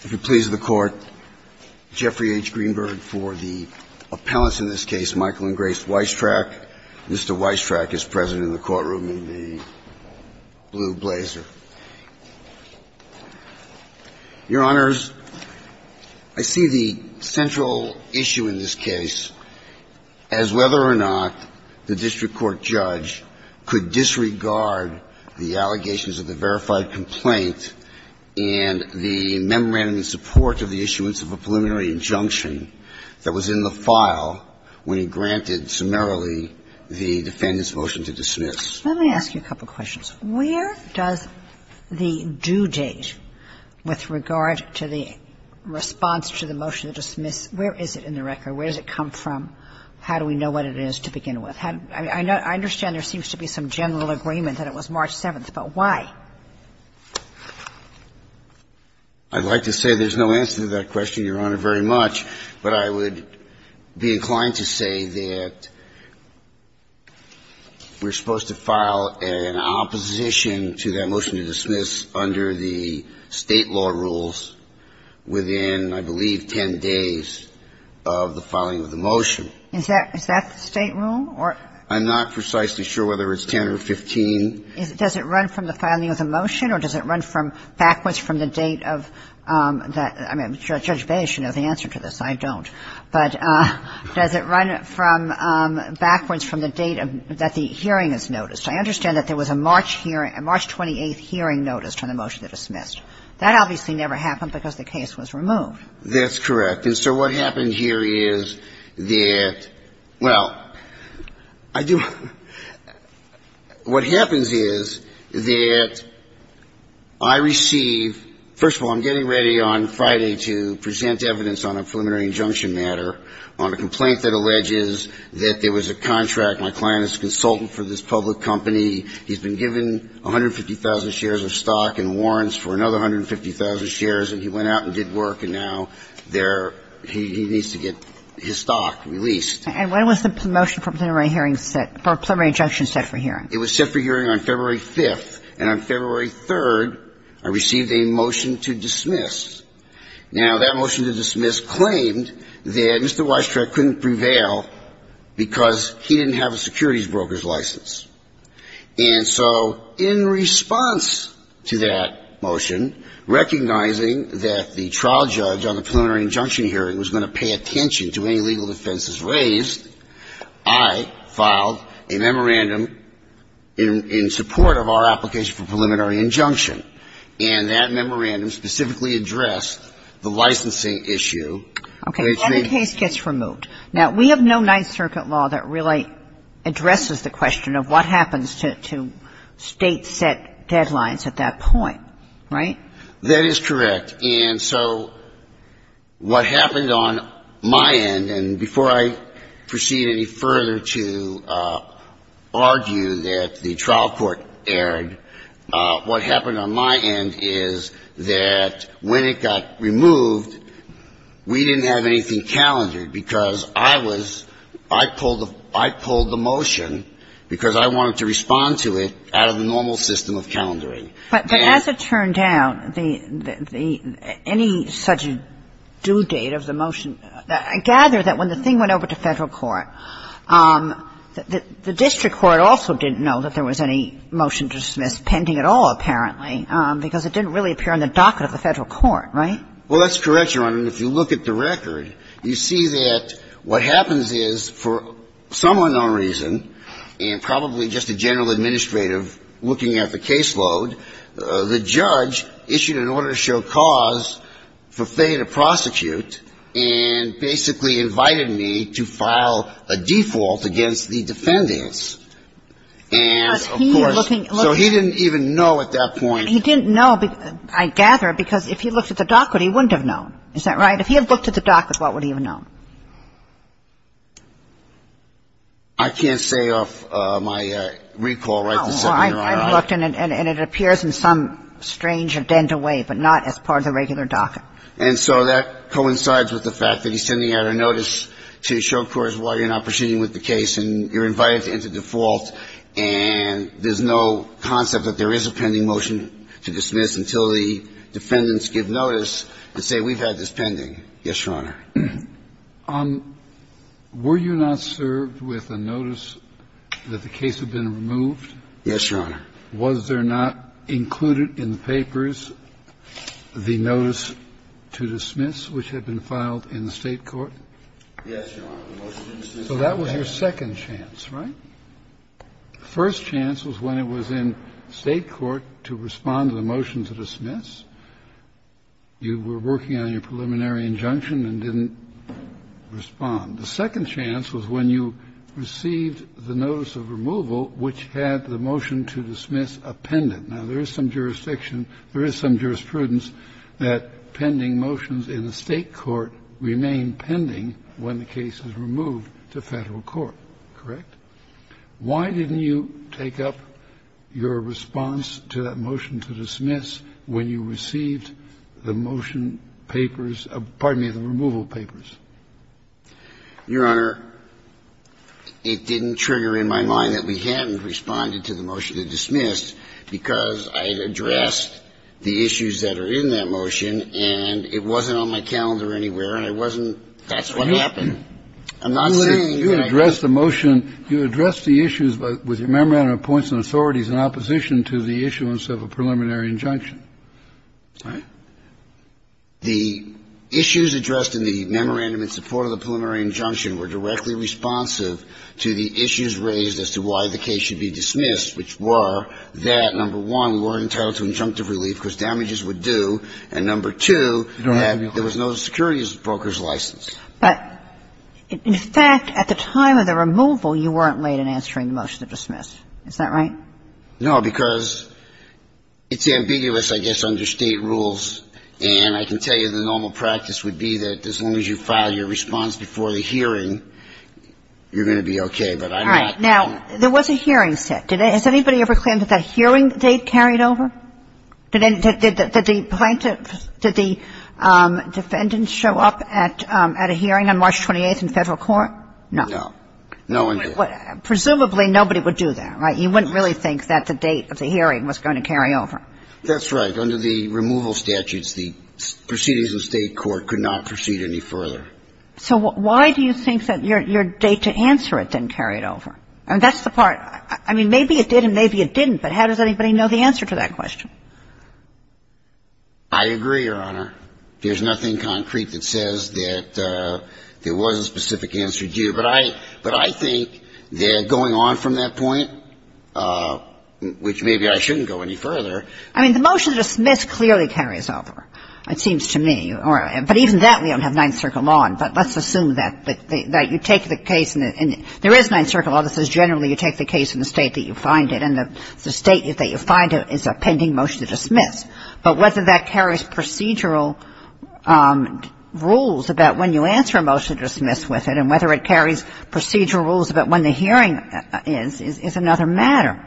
If it pleases the Court, Jeffrey H. Greenberg for the appellants in this case, Michael and Grace Weistrach. Mr. Weistrach is present in the courtroom in the blue blazer. Your Honors, I see the central issue in this case as whether or not the district court judge could disregard the allegations of the verified complaint and the memorandum in support of the issuance of a preliminary injunction that was in the file when he granted summarily the defendant's motion to dismiss. Kagan Let me ask you a couple of questions. Where does the due date with regard to the response to the motion to dismiss, where is it in the record? Where does it come from? How do we know what it is to begin with? I understand there seems to be some general agreement that it was March 7th, but why? Weistrach I'd like to say there's no answer to that question, Your Honor, very much. But I would be inclined to say that we're supposed to file an opposition to that motion to dismiss under the State law rules within, I believe, 10 days of the filing of the motion. Kagan Is that the State rule? Weistrach I'm not precisely sure whether it's 10 or 15. Kagan Does it run from the filing of the motion or does it run from backwards from the date of that? Judge Baez should know the answer to this. I don't. But does it run from backwards from the date that the hearing is noticed? I understand that there was a March hearing, a March 28th hearing noticed on the motion to dismiss. That obviously never happened because the case was removed. Weistrach That's correct. And, sir, what happened here is that, well, I do what happens is that I receive first of all, I'm getting ready on Friday to present evidence on a preliminary injunction matter on a complaint that alleges that there was a contract. My client is a consultant for this public company. He's been given 150,000 shares of stock and warrants for another 150,000 shares. And he went out and did work, and now they're he needs to get his stock released. And when was the motion for preliminary hearing set for a preliminary injunction set for hearing? It was set for hearing on February 5th. And on February 3rd, I received a motion to dismiss. Now, that motion to dismiss claimed that Mr. Weistrach couldn't prevail because he didn't have a securities broker's license. And so in response to that motion, recognizing that the trial judge on the preliminary injunction hearing was going to pay attention to any legal offenses raised, I filed a memorandum in support of our application for preliminary injunction. And that memorandum specifically addressed the licensing issue. And it's the And the case gets removed. Now, we have no Ninth Circuit law that really addresses the question of what happens to State-set deadlines at that point, right? That is correct. And so what happened on my end, and before I proceed any further to argue that the trial court erred, what happened on my end is that when it got removed, we didn't have anything calendared because I was, I pulled the motion because I wanted to respond to it out of the normal system of calendaring. But as it turned out, any such due date of the motion, I gather that when the thing went over to Federal court, the district court also didn't know that there was any motion to dismiss pending at all, apparently, because it didn't really appear on the docket of the Federal court, right? Well, that's correct, Your Honor. And if you look at the record, you see that what happens is for some unknown reason and probably just a general administrative looking at the caseload, the judge issued an order to show cause for Faye to prosecute and basically invited me to file a default against the defendants. And of course, so he didn't even know at that point. He didn't know, I gather, because if he looked at the docket, he wouldn't have known. Is that right? If he had looked at the docket, what would he have known? I can't say off my recall, right? I looked and it appears in some strange or dental way, but not as part of the regular docket. And so that coincides with the fact that he's sending out a notice to show cause why you're not proceeding with the case and you're invited to enter default and there's no concept that there is a pending motion to dismiss until the defendants give notice and say we've had this pending. Yes, Your Honor. Were you not served with a notice that the case had been removed? Yes, Your Honor. Was there not included in the papers the notice to dismiss which had been filed in the State court? Yes, Your Honor. So that was your second chance, right? The first chance was when it was in State court to respond to the motion to dismiss. You were working on your preliminary injunction and didn't respond. The second chance was when you received the notice of removal which had the motion to dismiss appended. Now, there is some jurisdiction, there is some jurisprudence that pending motions in the State court remain pending when the case is removed to Federal court, correct? Why didn't you take up your response to that motion to dismiss when you received the motion papers, pardon me, the removal papers? Your Honor, it didn't trigger in my mind that we hadn't responded to the motion to dismiss because I had addressed the issues that are in that motion and it wasn't on my calendar anywhere and I wasn't... That's what happened. I'm not saying... You addressed the motion. You addressed the issues with your memorandum of points and authorities in opposition to the issuance of a preliminary injunction. Right. The issues addressed in the memorandum in support of the preliminary injunction were directly responsive to the issues raised as to why the case should be dismissed, which were that, number one, we weren't entitled to injunctive relief because damages were due, and number two, there was no securities broker's license. But in fact, at the time of the removal, you weren't late in answering the motion to dismiss. Is that right? No, because it's ambiguous, I guess, under State rules, and I can tell you the normal practice would be that as long as you file your response before the hearing, you're going to be okay. But I'm not... All right. Now, there was a hearing set. Has anybody ever claimed that that hearing they carried over? Did the plaintiffs, did the defendants show up at a hearing on March 28th in Federal Court? No. No one did. Presumably nobody would do that, right? You wouldn't really think that the date of the hearing was going to carry over. That's right. Under the removal statutes, the proceedings of State court could not proceed any further. So why do you think that your date to answer it didn't carry it over? I mean, that's the part. I mean, maybe it did and maybe it didn't, but how does anybody know the answer to that question? I agree, Your Honor. There's nothing concrete that says that there was a specific answer due, but I think that going on from that point, which maybe I shouldn't go any further... I mean, the motion to dismiss clearly carries over, it seems to me. But even that we don't have Ninth Circle law, but let's assume that you take the case and there is Ninth Circle law that says generally you take the case in the State that you find it and the State that you find it is a pending motion to dismiss. But whether that carries procedural rules about when you answer a motion to dismiss with it and whether it carries procedural rules about when the hearing is, is another matter.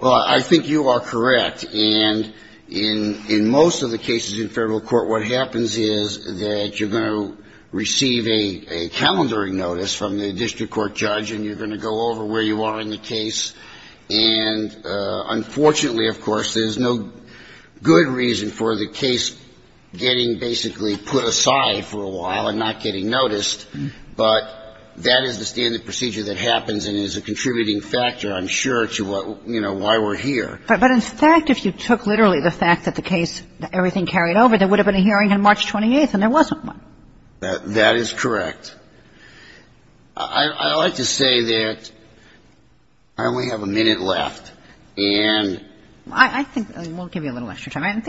Well, I think you are correct. And in most of the cases in Federal court, what happens is that you're going to receive a hearing on a case and unfortunately, of course, there's no good reason for the case getting basically put aside for a while and not getting noticed. But that is the standard procedure that happens and is a contributing factor, I'm sure, to what, you know, why we're here. But in fact, if you took literally the fact that the case, everything carried over, there would have been a hearing on March 28th and there wasn't one. That is correct. I'd like to say that we have a minute left. And we'll give you a little extra time. Let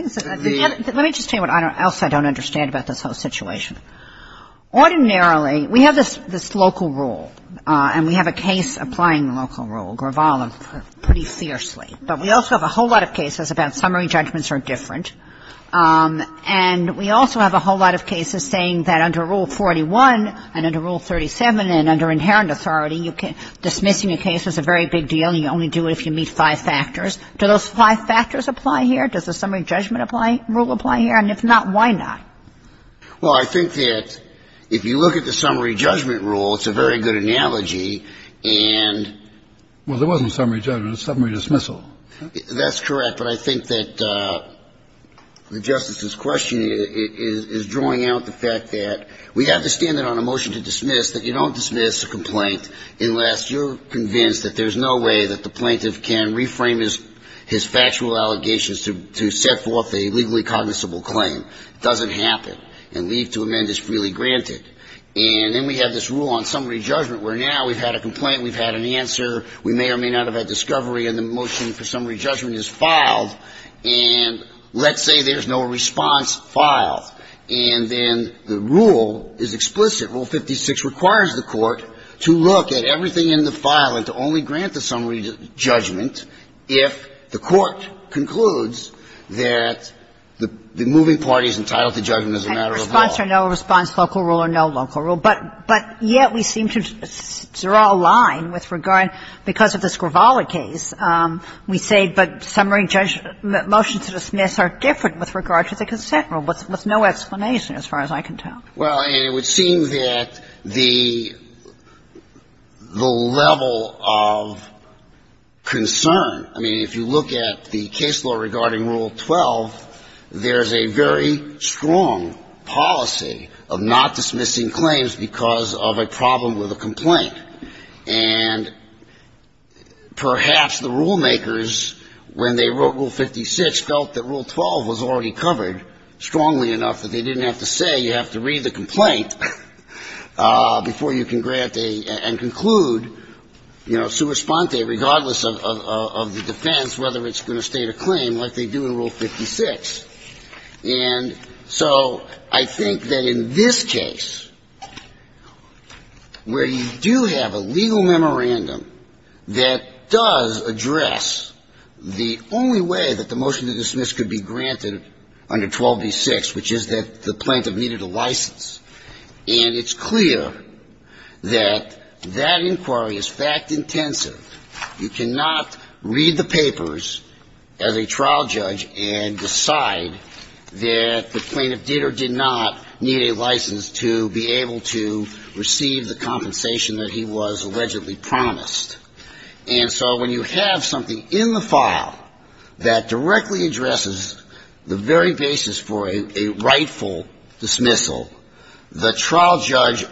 me just tell you what else I don't understand about this whole situation. Ordinarily, we have this local rule and we have a case applying the local rule, Gravala, pretty fiercely. But we also have a whole lot of cases about summary judgments are different and we also have a whole lot of cases saying that under Rule 41 and under Rule 37 and under inherent authority, dismissing a case is a very big deal and you only do it if you meet five factors. Do those five factors apply here? Does the summary judgment rule apply here? And if not, why not? Well, I think that if you look at the summary judgment rule, it's a very good analogy and… Well, there wasn't summary judgment. It's summary dismissal. That's correct. But I think that the Justice's question is drawing out the fact that we have the standard on a motion to dismiss that you don't dismiss a complaint unless you're convinced that there's no way that the plaintiff can reframe his factual allegations to set forth a legally cognizable claim. It doesn't happen. And leave to amend is freely granted. And then we have this rule on summary judgment where now we've had a complaint, we've had an answer. We may or may not have had discovery and the motion for summary judgment is filed and let's say there's no response filed. And then the rule is explicit. Rule 56 requires the Court to look at everything in the file and to only grant the summary judgment if the Court concludes that the moving party is entitled to judgment as a matter of law. And response or no response, local rule or no local rule. But yet we seem to draw a line with regard, because of this Gravala case, we say but summary motion to dismiss are different with regard to the consent rule with no explanation as far as I can tell. Well, and it would seem that the level of concern, I mean, if you look at the case law regarding Rule 12, there's a very strong policy of not dismissing claims but dismissing claims because of a problem with a complaint. And perhaps the rule makers when they wrote Rule 56 felt that Rule 12 was already covered strongly enough that they didn't have to say you have to read the complaint before you can grant and conclude, you know, sua sponte, regardless of the defense, whether it's going to state a claim like they do in Rule 56. And so I think that in this case, where you do have a legal memorandum that does address the only way that the motion to dismiss could be granted under 12b-6, which is that the plaintiff needed a license, and it's clear that that inquiry is fact intensive. You cannot read the papers as a trial judge and decide that the plaintiff did or did not need a license to be able to receive the compensation that he was allegedly promised. And so when you have something in the file that directly addresses the very basis for a rightful dismissal, the trial judge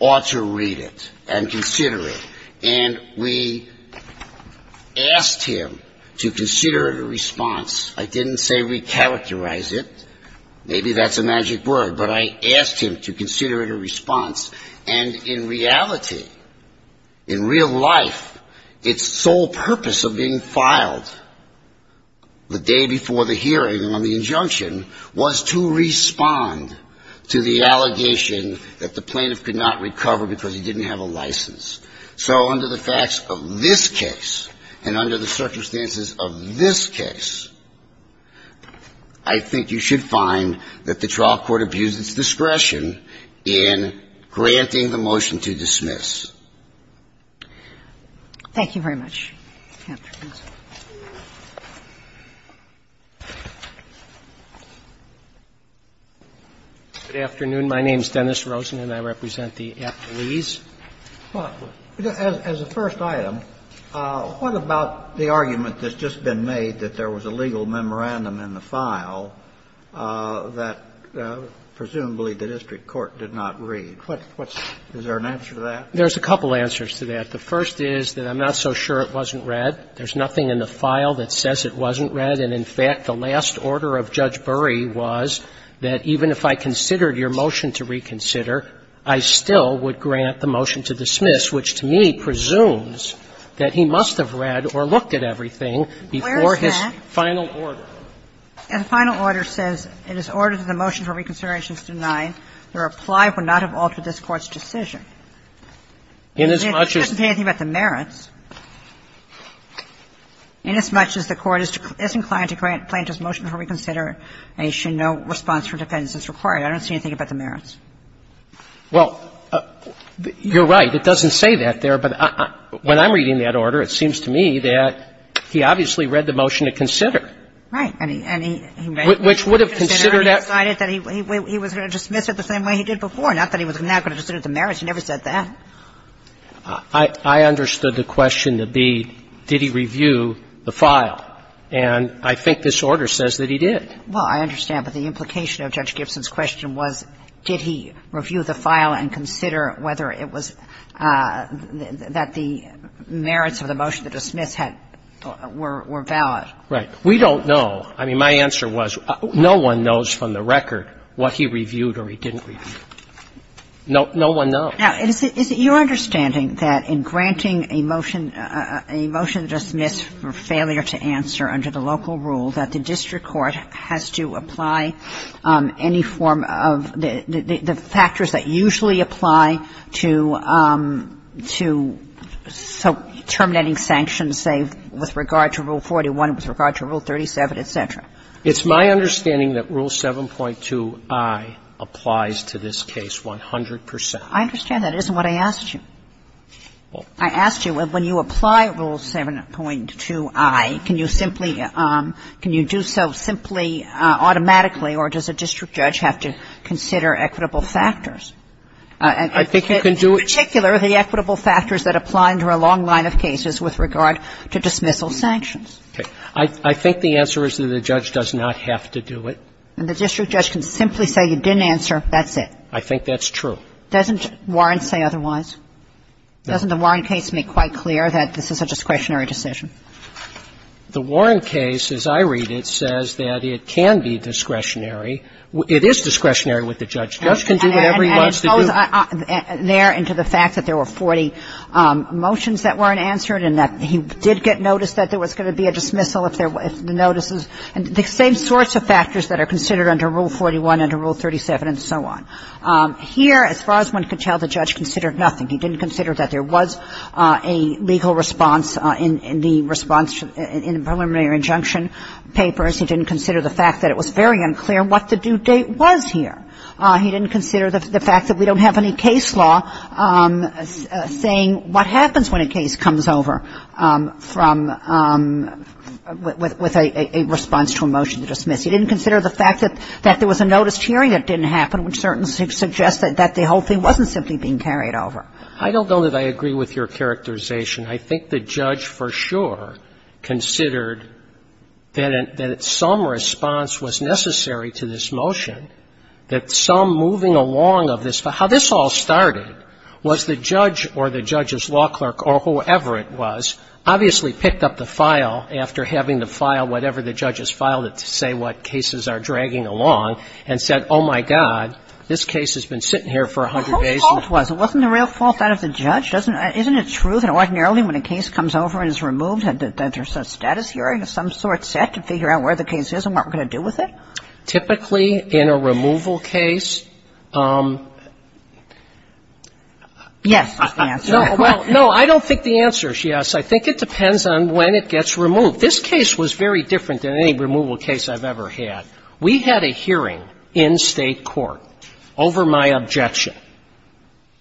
ought to read it and consider it. And we asked him to consider it a response. I didn't say recharacterize it. Maybe that's a magic word, but I asked him to consider it a response. And in reality, in real life, its sole purpose of being filed the day before the hearing on the injunction was to respond to the allegation that the plaintiff could not recover because he didn't have a license. So under the facts of this case and under the circumstances of this case, I think you should find that the trial court abused its discretion in granting the motion to dismiss. Thank you very much. Good afternoon. My name is Dennis Rosen, and I represent the Appalachian I would like to ask a couple of questions. First, I would like to ask a couple of questions. First, as a first item, what about the argument that's just been made that there was a legal memorandum in the file that presumably the district court did not read? Is there an answer to that? There's a couple answers to that. The first is that I'm not so sure it wasn't read. There's nothing in the file that says it wasn't read. And in fact, the last order of Judge Bury was that even if I considered your motion to reconsider, I still would grant the motion to dismiss, which to me presumes that he must have read or looked at everything before his final order. Where's that? The final order says it is ordered that the motion for reconsideration be considered. I don't see anything about the merits. If the motion for reconsideration is denied, the reply would not have altered this Court's decision. Inasmuch as the Court is inclined to grant plaintiff's motion for reconsideration, no response from defendants is required. I don't see anything about the merits. Well, you're right. It doesn't say that there, but when I'm reading that order, it seems to me that he obviously read the motion to consider. Right. And he read the motion to consider. Which would have considered that. He decided that he was going to dismiss it the same way he did before. Not that he was now going to consider the merits. He never said that. I understood the question to be did he review the file. And I think this order says that he did. Well, I understand. But the implication of Judge Gibson's question was did he review the file and consider whether it was that the merits of the motion to dismiss had or were valid. We don't know. I mean, my answer was no one knows from the record what he reviewed or he didn't review. No one knows. Now, is it your understanding that in granting a motion, a motion to dismiss for failure to answer under the local rule, that the district court has to apply any form of the factors that usually apply to terminating sanctions, say, with regard to Rule 41, with regard to Rule 37, et cetera? It's my understanding that Rule 7.2i applies to this case 100 percent. I understand that. It isn't what I asked you. I asked you when you apply Rule 7.2i, can you simply, can you do so simply automatically or does a district judge have to consider equitable factors? I think you can do it. In particular, the equitable factors that apply under a long line of cases with regard to dismissal sanctions. Okay. I think the answer is that the judge does not have to do it. And the district judge can simply say you didn't answer, that's it. I think that's true. Doesn't Warren say otherwise? Doesn't the Warren case make quite clear that this is a discretionary decision? The Warren case, as I read it, says that it can be discretionary. It is discretionary with the judge. The judge can do whatever he wants to do. And it goes there into the fact that there were 40 motions that weren't answered and that he did get notice that there was going to be a dismissal if the notices and the same sorts of factors that are considered under Rule 41, under Rule 37 and so on. Here, as far as one could tell, the judge considered nothing. He didn't consider that there was a legal response in the response in the preliminary injunction papers. He didn't consider the fact that it was very unclear what the due date was here. He didn't consider the fact that we don't have any case law saying what happens when a case comes over from – with a response to a motion to dismiss. He didn't consider the fact that there was a noticed hearing that didn't happen, which suggests that the whole thing wasn't simply being carried over. I don't know that I agree with your characterization. I think the judge for sure considered that some response was necessary to this motion, that some moving along of this – how this all started was the judge or the judge's law clerk or whoever it was obviously picked up the file after having the file, whatever the judge has filed it to say what cases are dragging along, and said, oh, my God, this case has been sitting here for 100 days. Kagan. How false was it? Wasn't there real false out of the judge? Doesn't – isn't it true that ordinarily when a case comes over and is removed, that there's a status hearing of some sort set to figure out where the case is and what we're going to do with it? Gershengorn Typically, in a removal case – Yes, is the answer. No, I don't think the answer is yes. I think it depends on when it gets removed. This case was very different than any removal case I've ever had. We had a hearing in State court over my objection,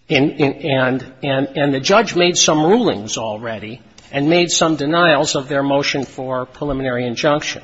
and the judge made some rulings already and made some denials of their motion for preliminary injunction.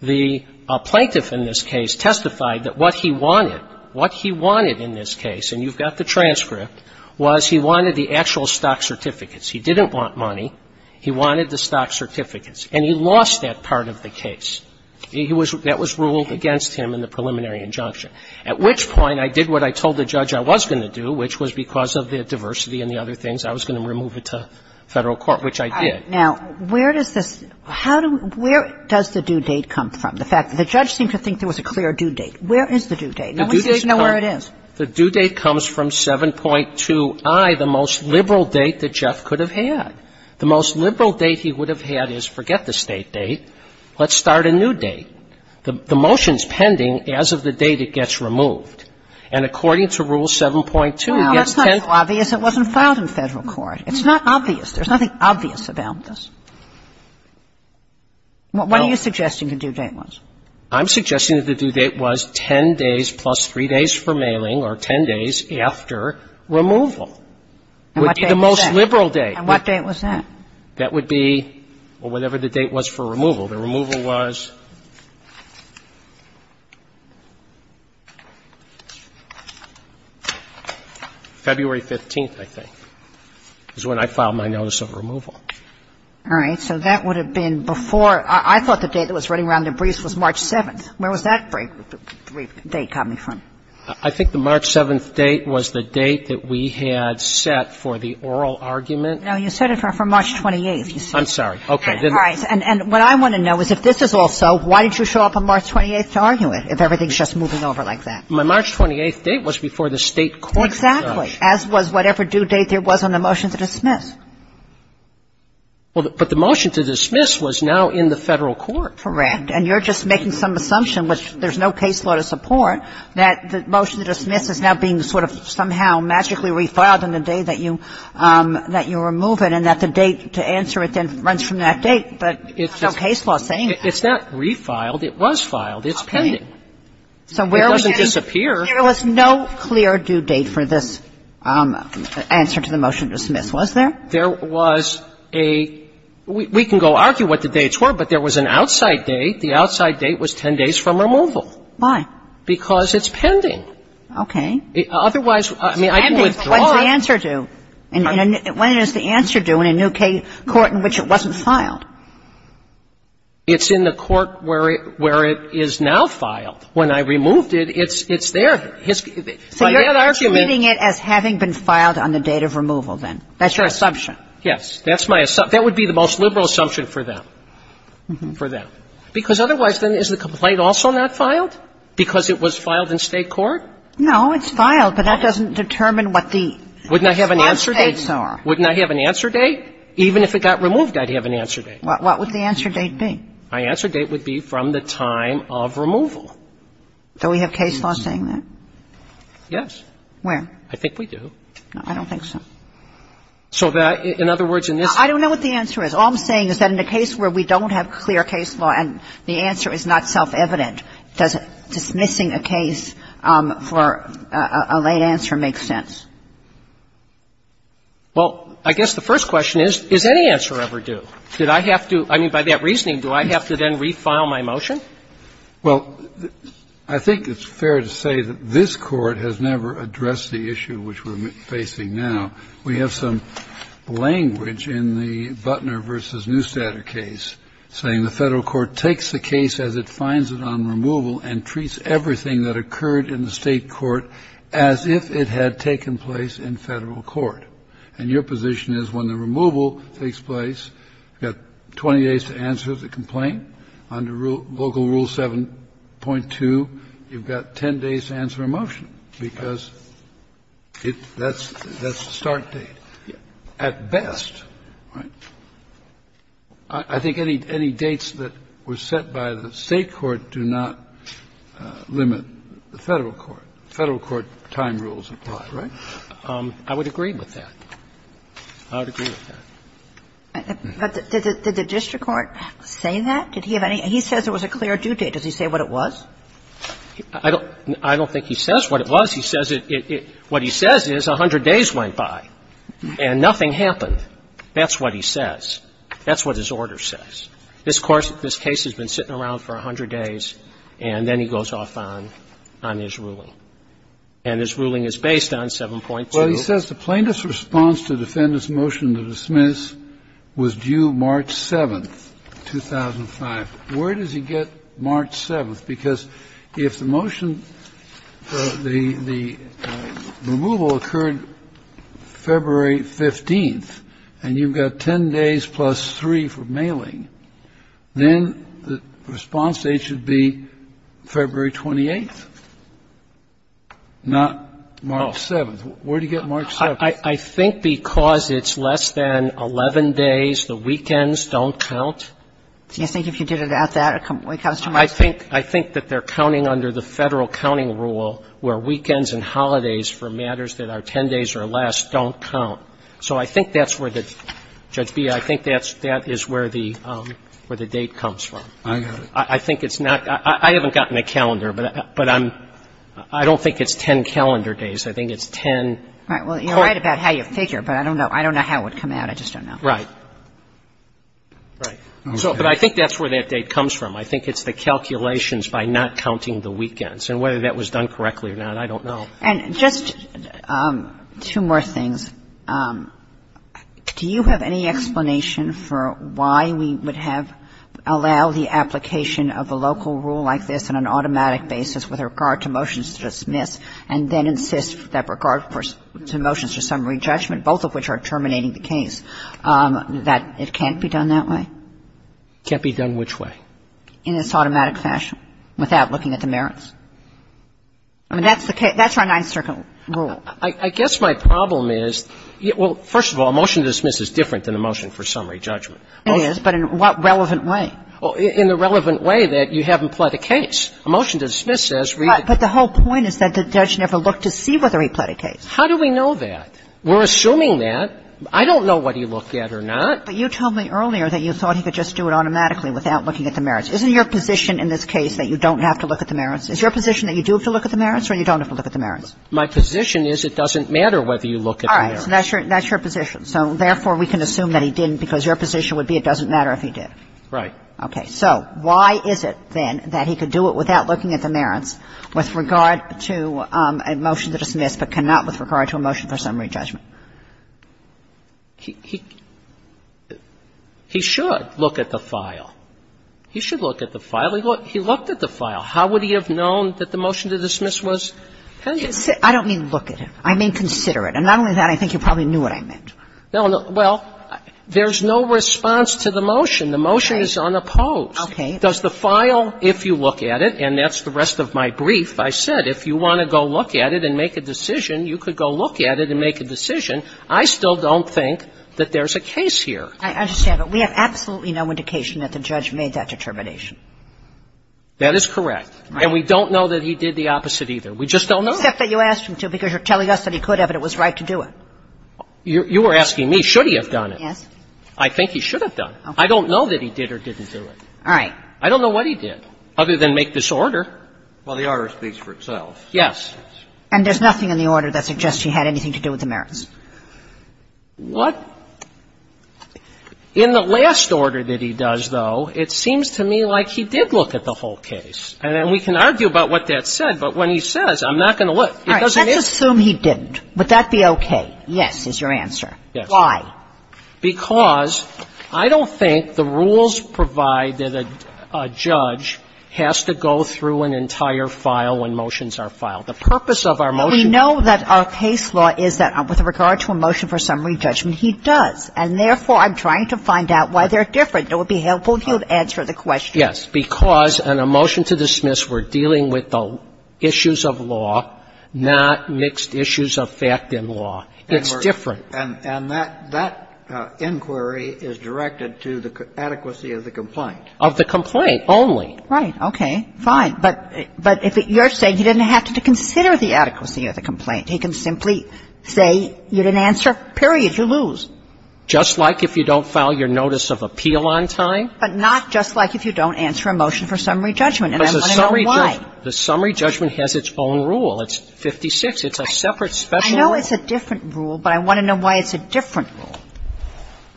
The plaintiff in this case testified that what he wanted, what he wanted in this case, and you've got the transcript, was he wanted the actual stock certificates. He didn't want money. He wanted the stock certificates. And he lost that part of the case. He was – that was ruled against him in the preliminary injunction, at which point I did what I told the judge I was going to do, which was because of the diversity and the other things, I was going to remove it to Federal court, which I did. Now, where does this – how do – where does the due date come from, the fact that the judge seemed to think there was a clear due date? Where is the due date? No one seems to know where it is. The due date comes from 7.2i, the most liberal date that Jeff could have had. The most liberal date he would have had is, forget the State date, let's start a new date. The motion's pending as of the date it gets removed. And according to Rule 7.2, it gets 10 days. Well, that's not so obvious it wasn't filed in Federal court. It's not obvious. There's nothing obvious about this. What are you suggesting the due date was? I'm suggesting that the due date was 10 days plus 3 days for mailing or 10 days after removal. And what date was that? It would be the most liberal date. And what date was that? That would be, well, whatever the date was for removal. The removal was February 15th, I think, is when I filed my notice of removal. All right. So that would have been before. I thought the date that was running around in the briefs was March 7th. Where was that brief date coming from? I think the March 7th date was the date that we had set for the oral argument. No, you set it for March 28th. I'm sorry. Okay. All right. And what I want to know is if this is also, why did you show up on March 28th to argue it if everything's just moving over like that? My March 28th date was before the State court. Exactly. As was whatever due date there was on the motion to dismiss. Well, but the motion to dismiss was now in the Federal court. Correct. And you're just making some assumption, which there's no case law to support, that the motion to dismiss is now being sort of somehow magically refiled on the day that you remove it, and that the date to answer it then runs from that date. But there's no case law saying that. It's not refiled. It was filed. It's pending. So where are we getting? It doesn't disappear. There was no clear due date for this answer to the motion to dismiss, was there? There was a we can go argue what the dates were, but there was an outside date. The outside date was 10 days from removal. Why? Because it's pending. Okay. Otherwise, I mean, I can withdraw it. It's pending. But when's the answer due? When is the answer due in a new court in which it wasn't filed? It's in the court where it is now filed. When I removed it, it's there. So you're treating it as having been filed on the date of removal then. That's your assumption. Yes. That's my assumption. That would be the most liberal assumption for them. For them. Because otherwise, then, is the complaint also not filed because it was filed in state court? No. But that doesn't determine what the response dates are. Wouldn't I have an answer date? Wouldn't I have an answer date? Even if it got removed, I'd have an answer date. What would the answer date be? My answer date would be from the time of removal. Do we have case law saying that? Yes. Where? I think we do. I don't think so. So that, in other words, in this case. I don't know what the answer is. All I'm saying is that in a case where we don't have clear case law and the answer is not self-evident, does dismissing a case for a late answer make sense? Well, I guess the first question is, is any answer ever due? Did I have to, I mean, by that reasoning, do I have to then refile my motion? Well, I think it's fair to say that this Court has never addressed the issue which we're facing now. We have some language in the Butner v. Neustadt case saying the federal court takes the case as it finds it on removal and treats everything that occurred in the state court as if it had taken place in federal court. And your position is when the removal takes place, you've got 20 days to answer the complaint. Under Local Rule 7.2, you've got 10 days to answer a motion because that's the start date. At best, I think any dates that were set by the state court do not limit the federal court. Federal court time rules apply, right? I would agree with that. I would agree with that. But did the district court say that? Did he have any, he says there was a clear due date. Does he say what it was? I don't think he says what it was. He says it, what he says is 100 days went by and nothing happened. That's what he says. That's what his order says. This case has been sitting around for 100 days, and then he goes off on his ruling. And his ruling is based on 7.2. He says the plaintiff's response to the defendant's motion to dismiss was due March 7th, 2005. Where does he get March 7th? Because if the motion, the removal occurred February 15th, and you've got 10 days plus 3 for mailing, then the response date should be February 28th, not March 7th. Where do you get March 7th? I think because it's less than 11 days, the weekends don't count. Do you think if you did it at that, it comes to March 7th? I think that they're counting under the Federal counting rule where weekends and holidays for matters that are 10 days or less don't count. So I think that's where the, Judge Bea, I think that is where the date comes from. I got it. I think it's not, I haven't gotten a calendar, but I'm, I don't think it's 10 calendar days. I think it's 10. Right. Well, you're right about how you figure, but I don't know. I don't know how it would come out. I just don't know. Right. Right. So, but I think that's where that date comes from. I think it's the calculations by not counting the weekends. And whether that was done correctly or not, I don't know. And just two more things. Do you have any explanation for why we would have, allow the application of a local rule like this on an automatic basis with regard to motions to dismiss and then insist that regard to motions to summary judgment, both of which are terminating the case, that it can't be done that way? Can't be done which way? In its automatic fashion without looking at the merits. I mean, that's the case, that's our Ninth Circuit rule. I guess my problem is, well, first of all, a motion to dismiss is different than a motion for summary judgment. It is, but in what relevant way? In the relevant way that you haven't pled a case. A motion to dismiss says we've been. But the whole point is that the judge never looked to see whether he pled a case. How do we know that? We're assuming that. I don't know what he looked at or not. But you told me earlier that you thought he could just do it automatically without looking at the merits. Isn't your position in this case that you don't have to look at the merits? Is your position that you do have to look at the merits or you don't have to look at the merits? My position is it doesn't matter whether you look at the merits. All right. So that's your position. So, therefore, we can assume that he didn't because your position would be it doesn't matter if he did. Right. Okay. So why is it, then, that he could do it without looking at the merits with regard to a motion to dismiss but cannot with regard to a motion for summary judgment? He should look at the file. He should look at the file. He looked at the file. How would he have known that the motion to dismiss was pending? I don't mean look at it. I mean consider it. And not only that, I think you probably knew what I meant. No. Well, there's no response to the motion. The motion is unopposed. Okay. Does the file, if you look at it, and that's the rest of my brief, I said if you want to go look at it and make a decision, you could go look at it and make a decision. I still don't think that there's a case here. I understand. But we have absolutely no indication that the judge made that determination. That is correct. Right. And we don't know that he did the opposite either. We just don't know. Except that you asked him to because you're telling us that he could have and it was You were asking me, should he have done it? Yes. I think he should have done it. I don't know that he did or didn't do it. All right. I don't know what he did, other than make this order. Well, the order speaks for itself. Yes. And there's nothing in the order that suggests he had anything to do with the merits? What? In the last order that he does, though, it seems to me like he did look at the whole case. And we can argue about what that said, but when he says, I'm not going to look, it doesn't mean All right. Let's assume he didn't. Would that be okay? Yes is your answer. Yes. Why? Because I don't think the rules provide that a judge has to go through an entire file when motions are filed. The purpose of our motion But we know that our case law is that with regard to a motion for summary judgment, he does. And therefore, I'm trying to find out why they're different. It would be helpful if you would answer the question. Yes. Because in a motion to dismiss, we're dealing with the issues of law, not mixed issues of fact and law. It's different. And that inquiry is directed to the adequacy of the complaint. Of the complaint only. Right. Okay. Fine. But you're saying he didn't have to consider the adequacy of the complaint. He can simply say you didn't answer, period. You lose. Just like if you don't file your notice of appeal on time. But not just like if you don't answer a motion for summary judgment. And I want to know why. Because the summary judgment has its own rule. It's 56. It's a separate special rule. I know it's a different rule, but I want to know why it's a different rule.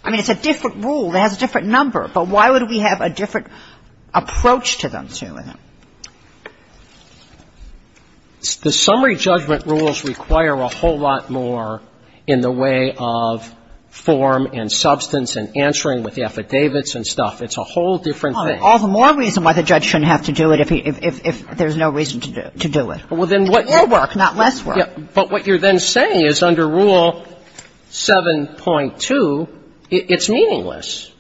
I mean, it's a different rule. It has a different number. But why would we have a different approach to them? The summary judgment rules require a whole lot more in the way of form and substance and answering with the affidavits and stuff. It's a whole different thing. All the more reason why the judge shouldn't have to do it if there's no reason to do it. It's more work, not less work. But what you're then saying is under Rule 7.2, it's meaningless.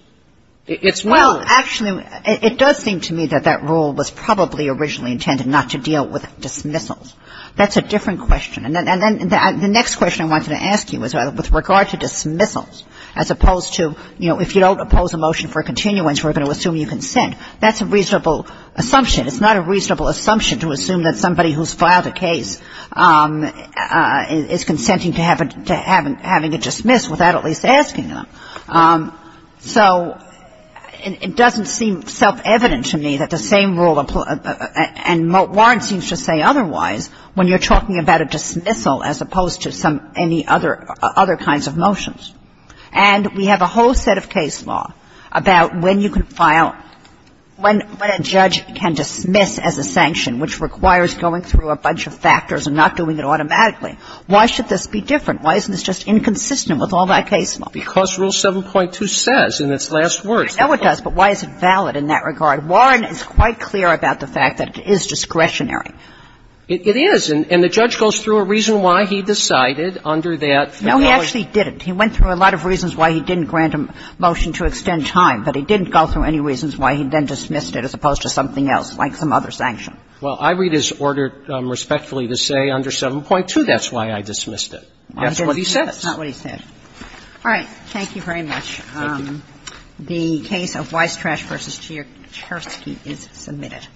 It's well- Well, actually, it does seem to me that that rule was probably originally intended not to deal with dismissals. That's a different question. And then the next question I wanted to ask you is with regard to dismissals, as opposed to, you know, if you don't oppose a motion for continuance, we're going to assume you consent. That's a reasonable assumption. It's not a reasonable assumption to assume that somebody who's filed a case is consenting to having a dismissal without at least asking them. So it doesn't seem self-evident to me that the same rule applies. And Warren seems to say otherwise when you're talking about a dismissal as opposed to some other kinds of motions. And we have a whole set of case law about when you can file, when a judge can dismiss as a sanction, which requires going through a bunch of factors and not doing it automatically. Why should this be different? Why isn't this just inconsistent with all that case law? Because Rule 7.2 says in its last words- I know it does, but why is it valid in that regard? Warren is quite clear about the fact that it is discretionary. It is. And the judge goes through a reason why he decided under that- No, he actually didn't. He went through a lot of reasons why he didn't grant a motion to extend time. But he didn't go through any reasons why he then dismissed it as opposed to something else, like some other sanction. Well, I read his order respectfully to say under 7.2 that's why I dismissed it. That's what he says. That's not what he said. All right. Thank you very much. Thank you. The case of Weistrash v. Chersky is submitted.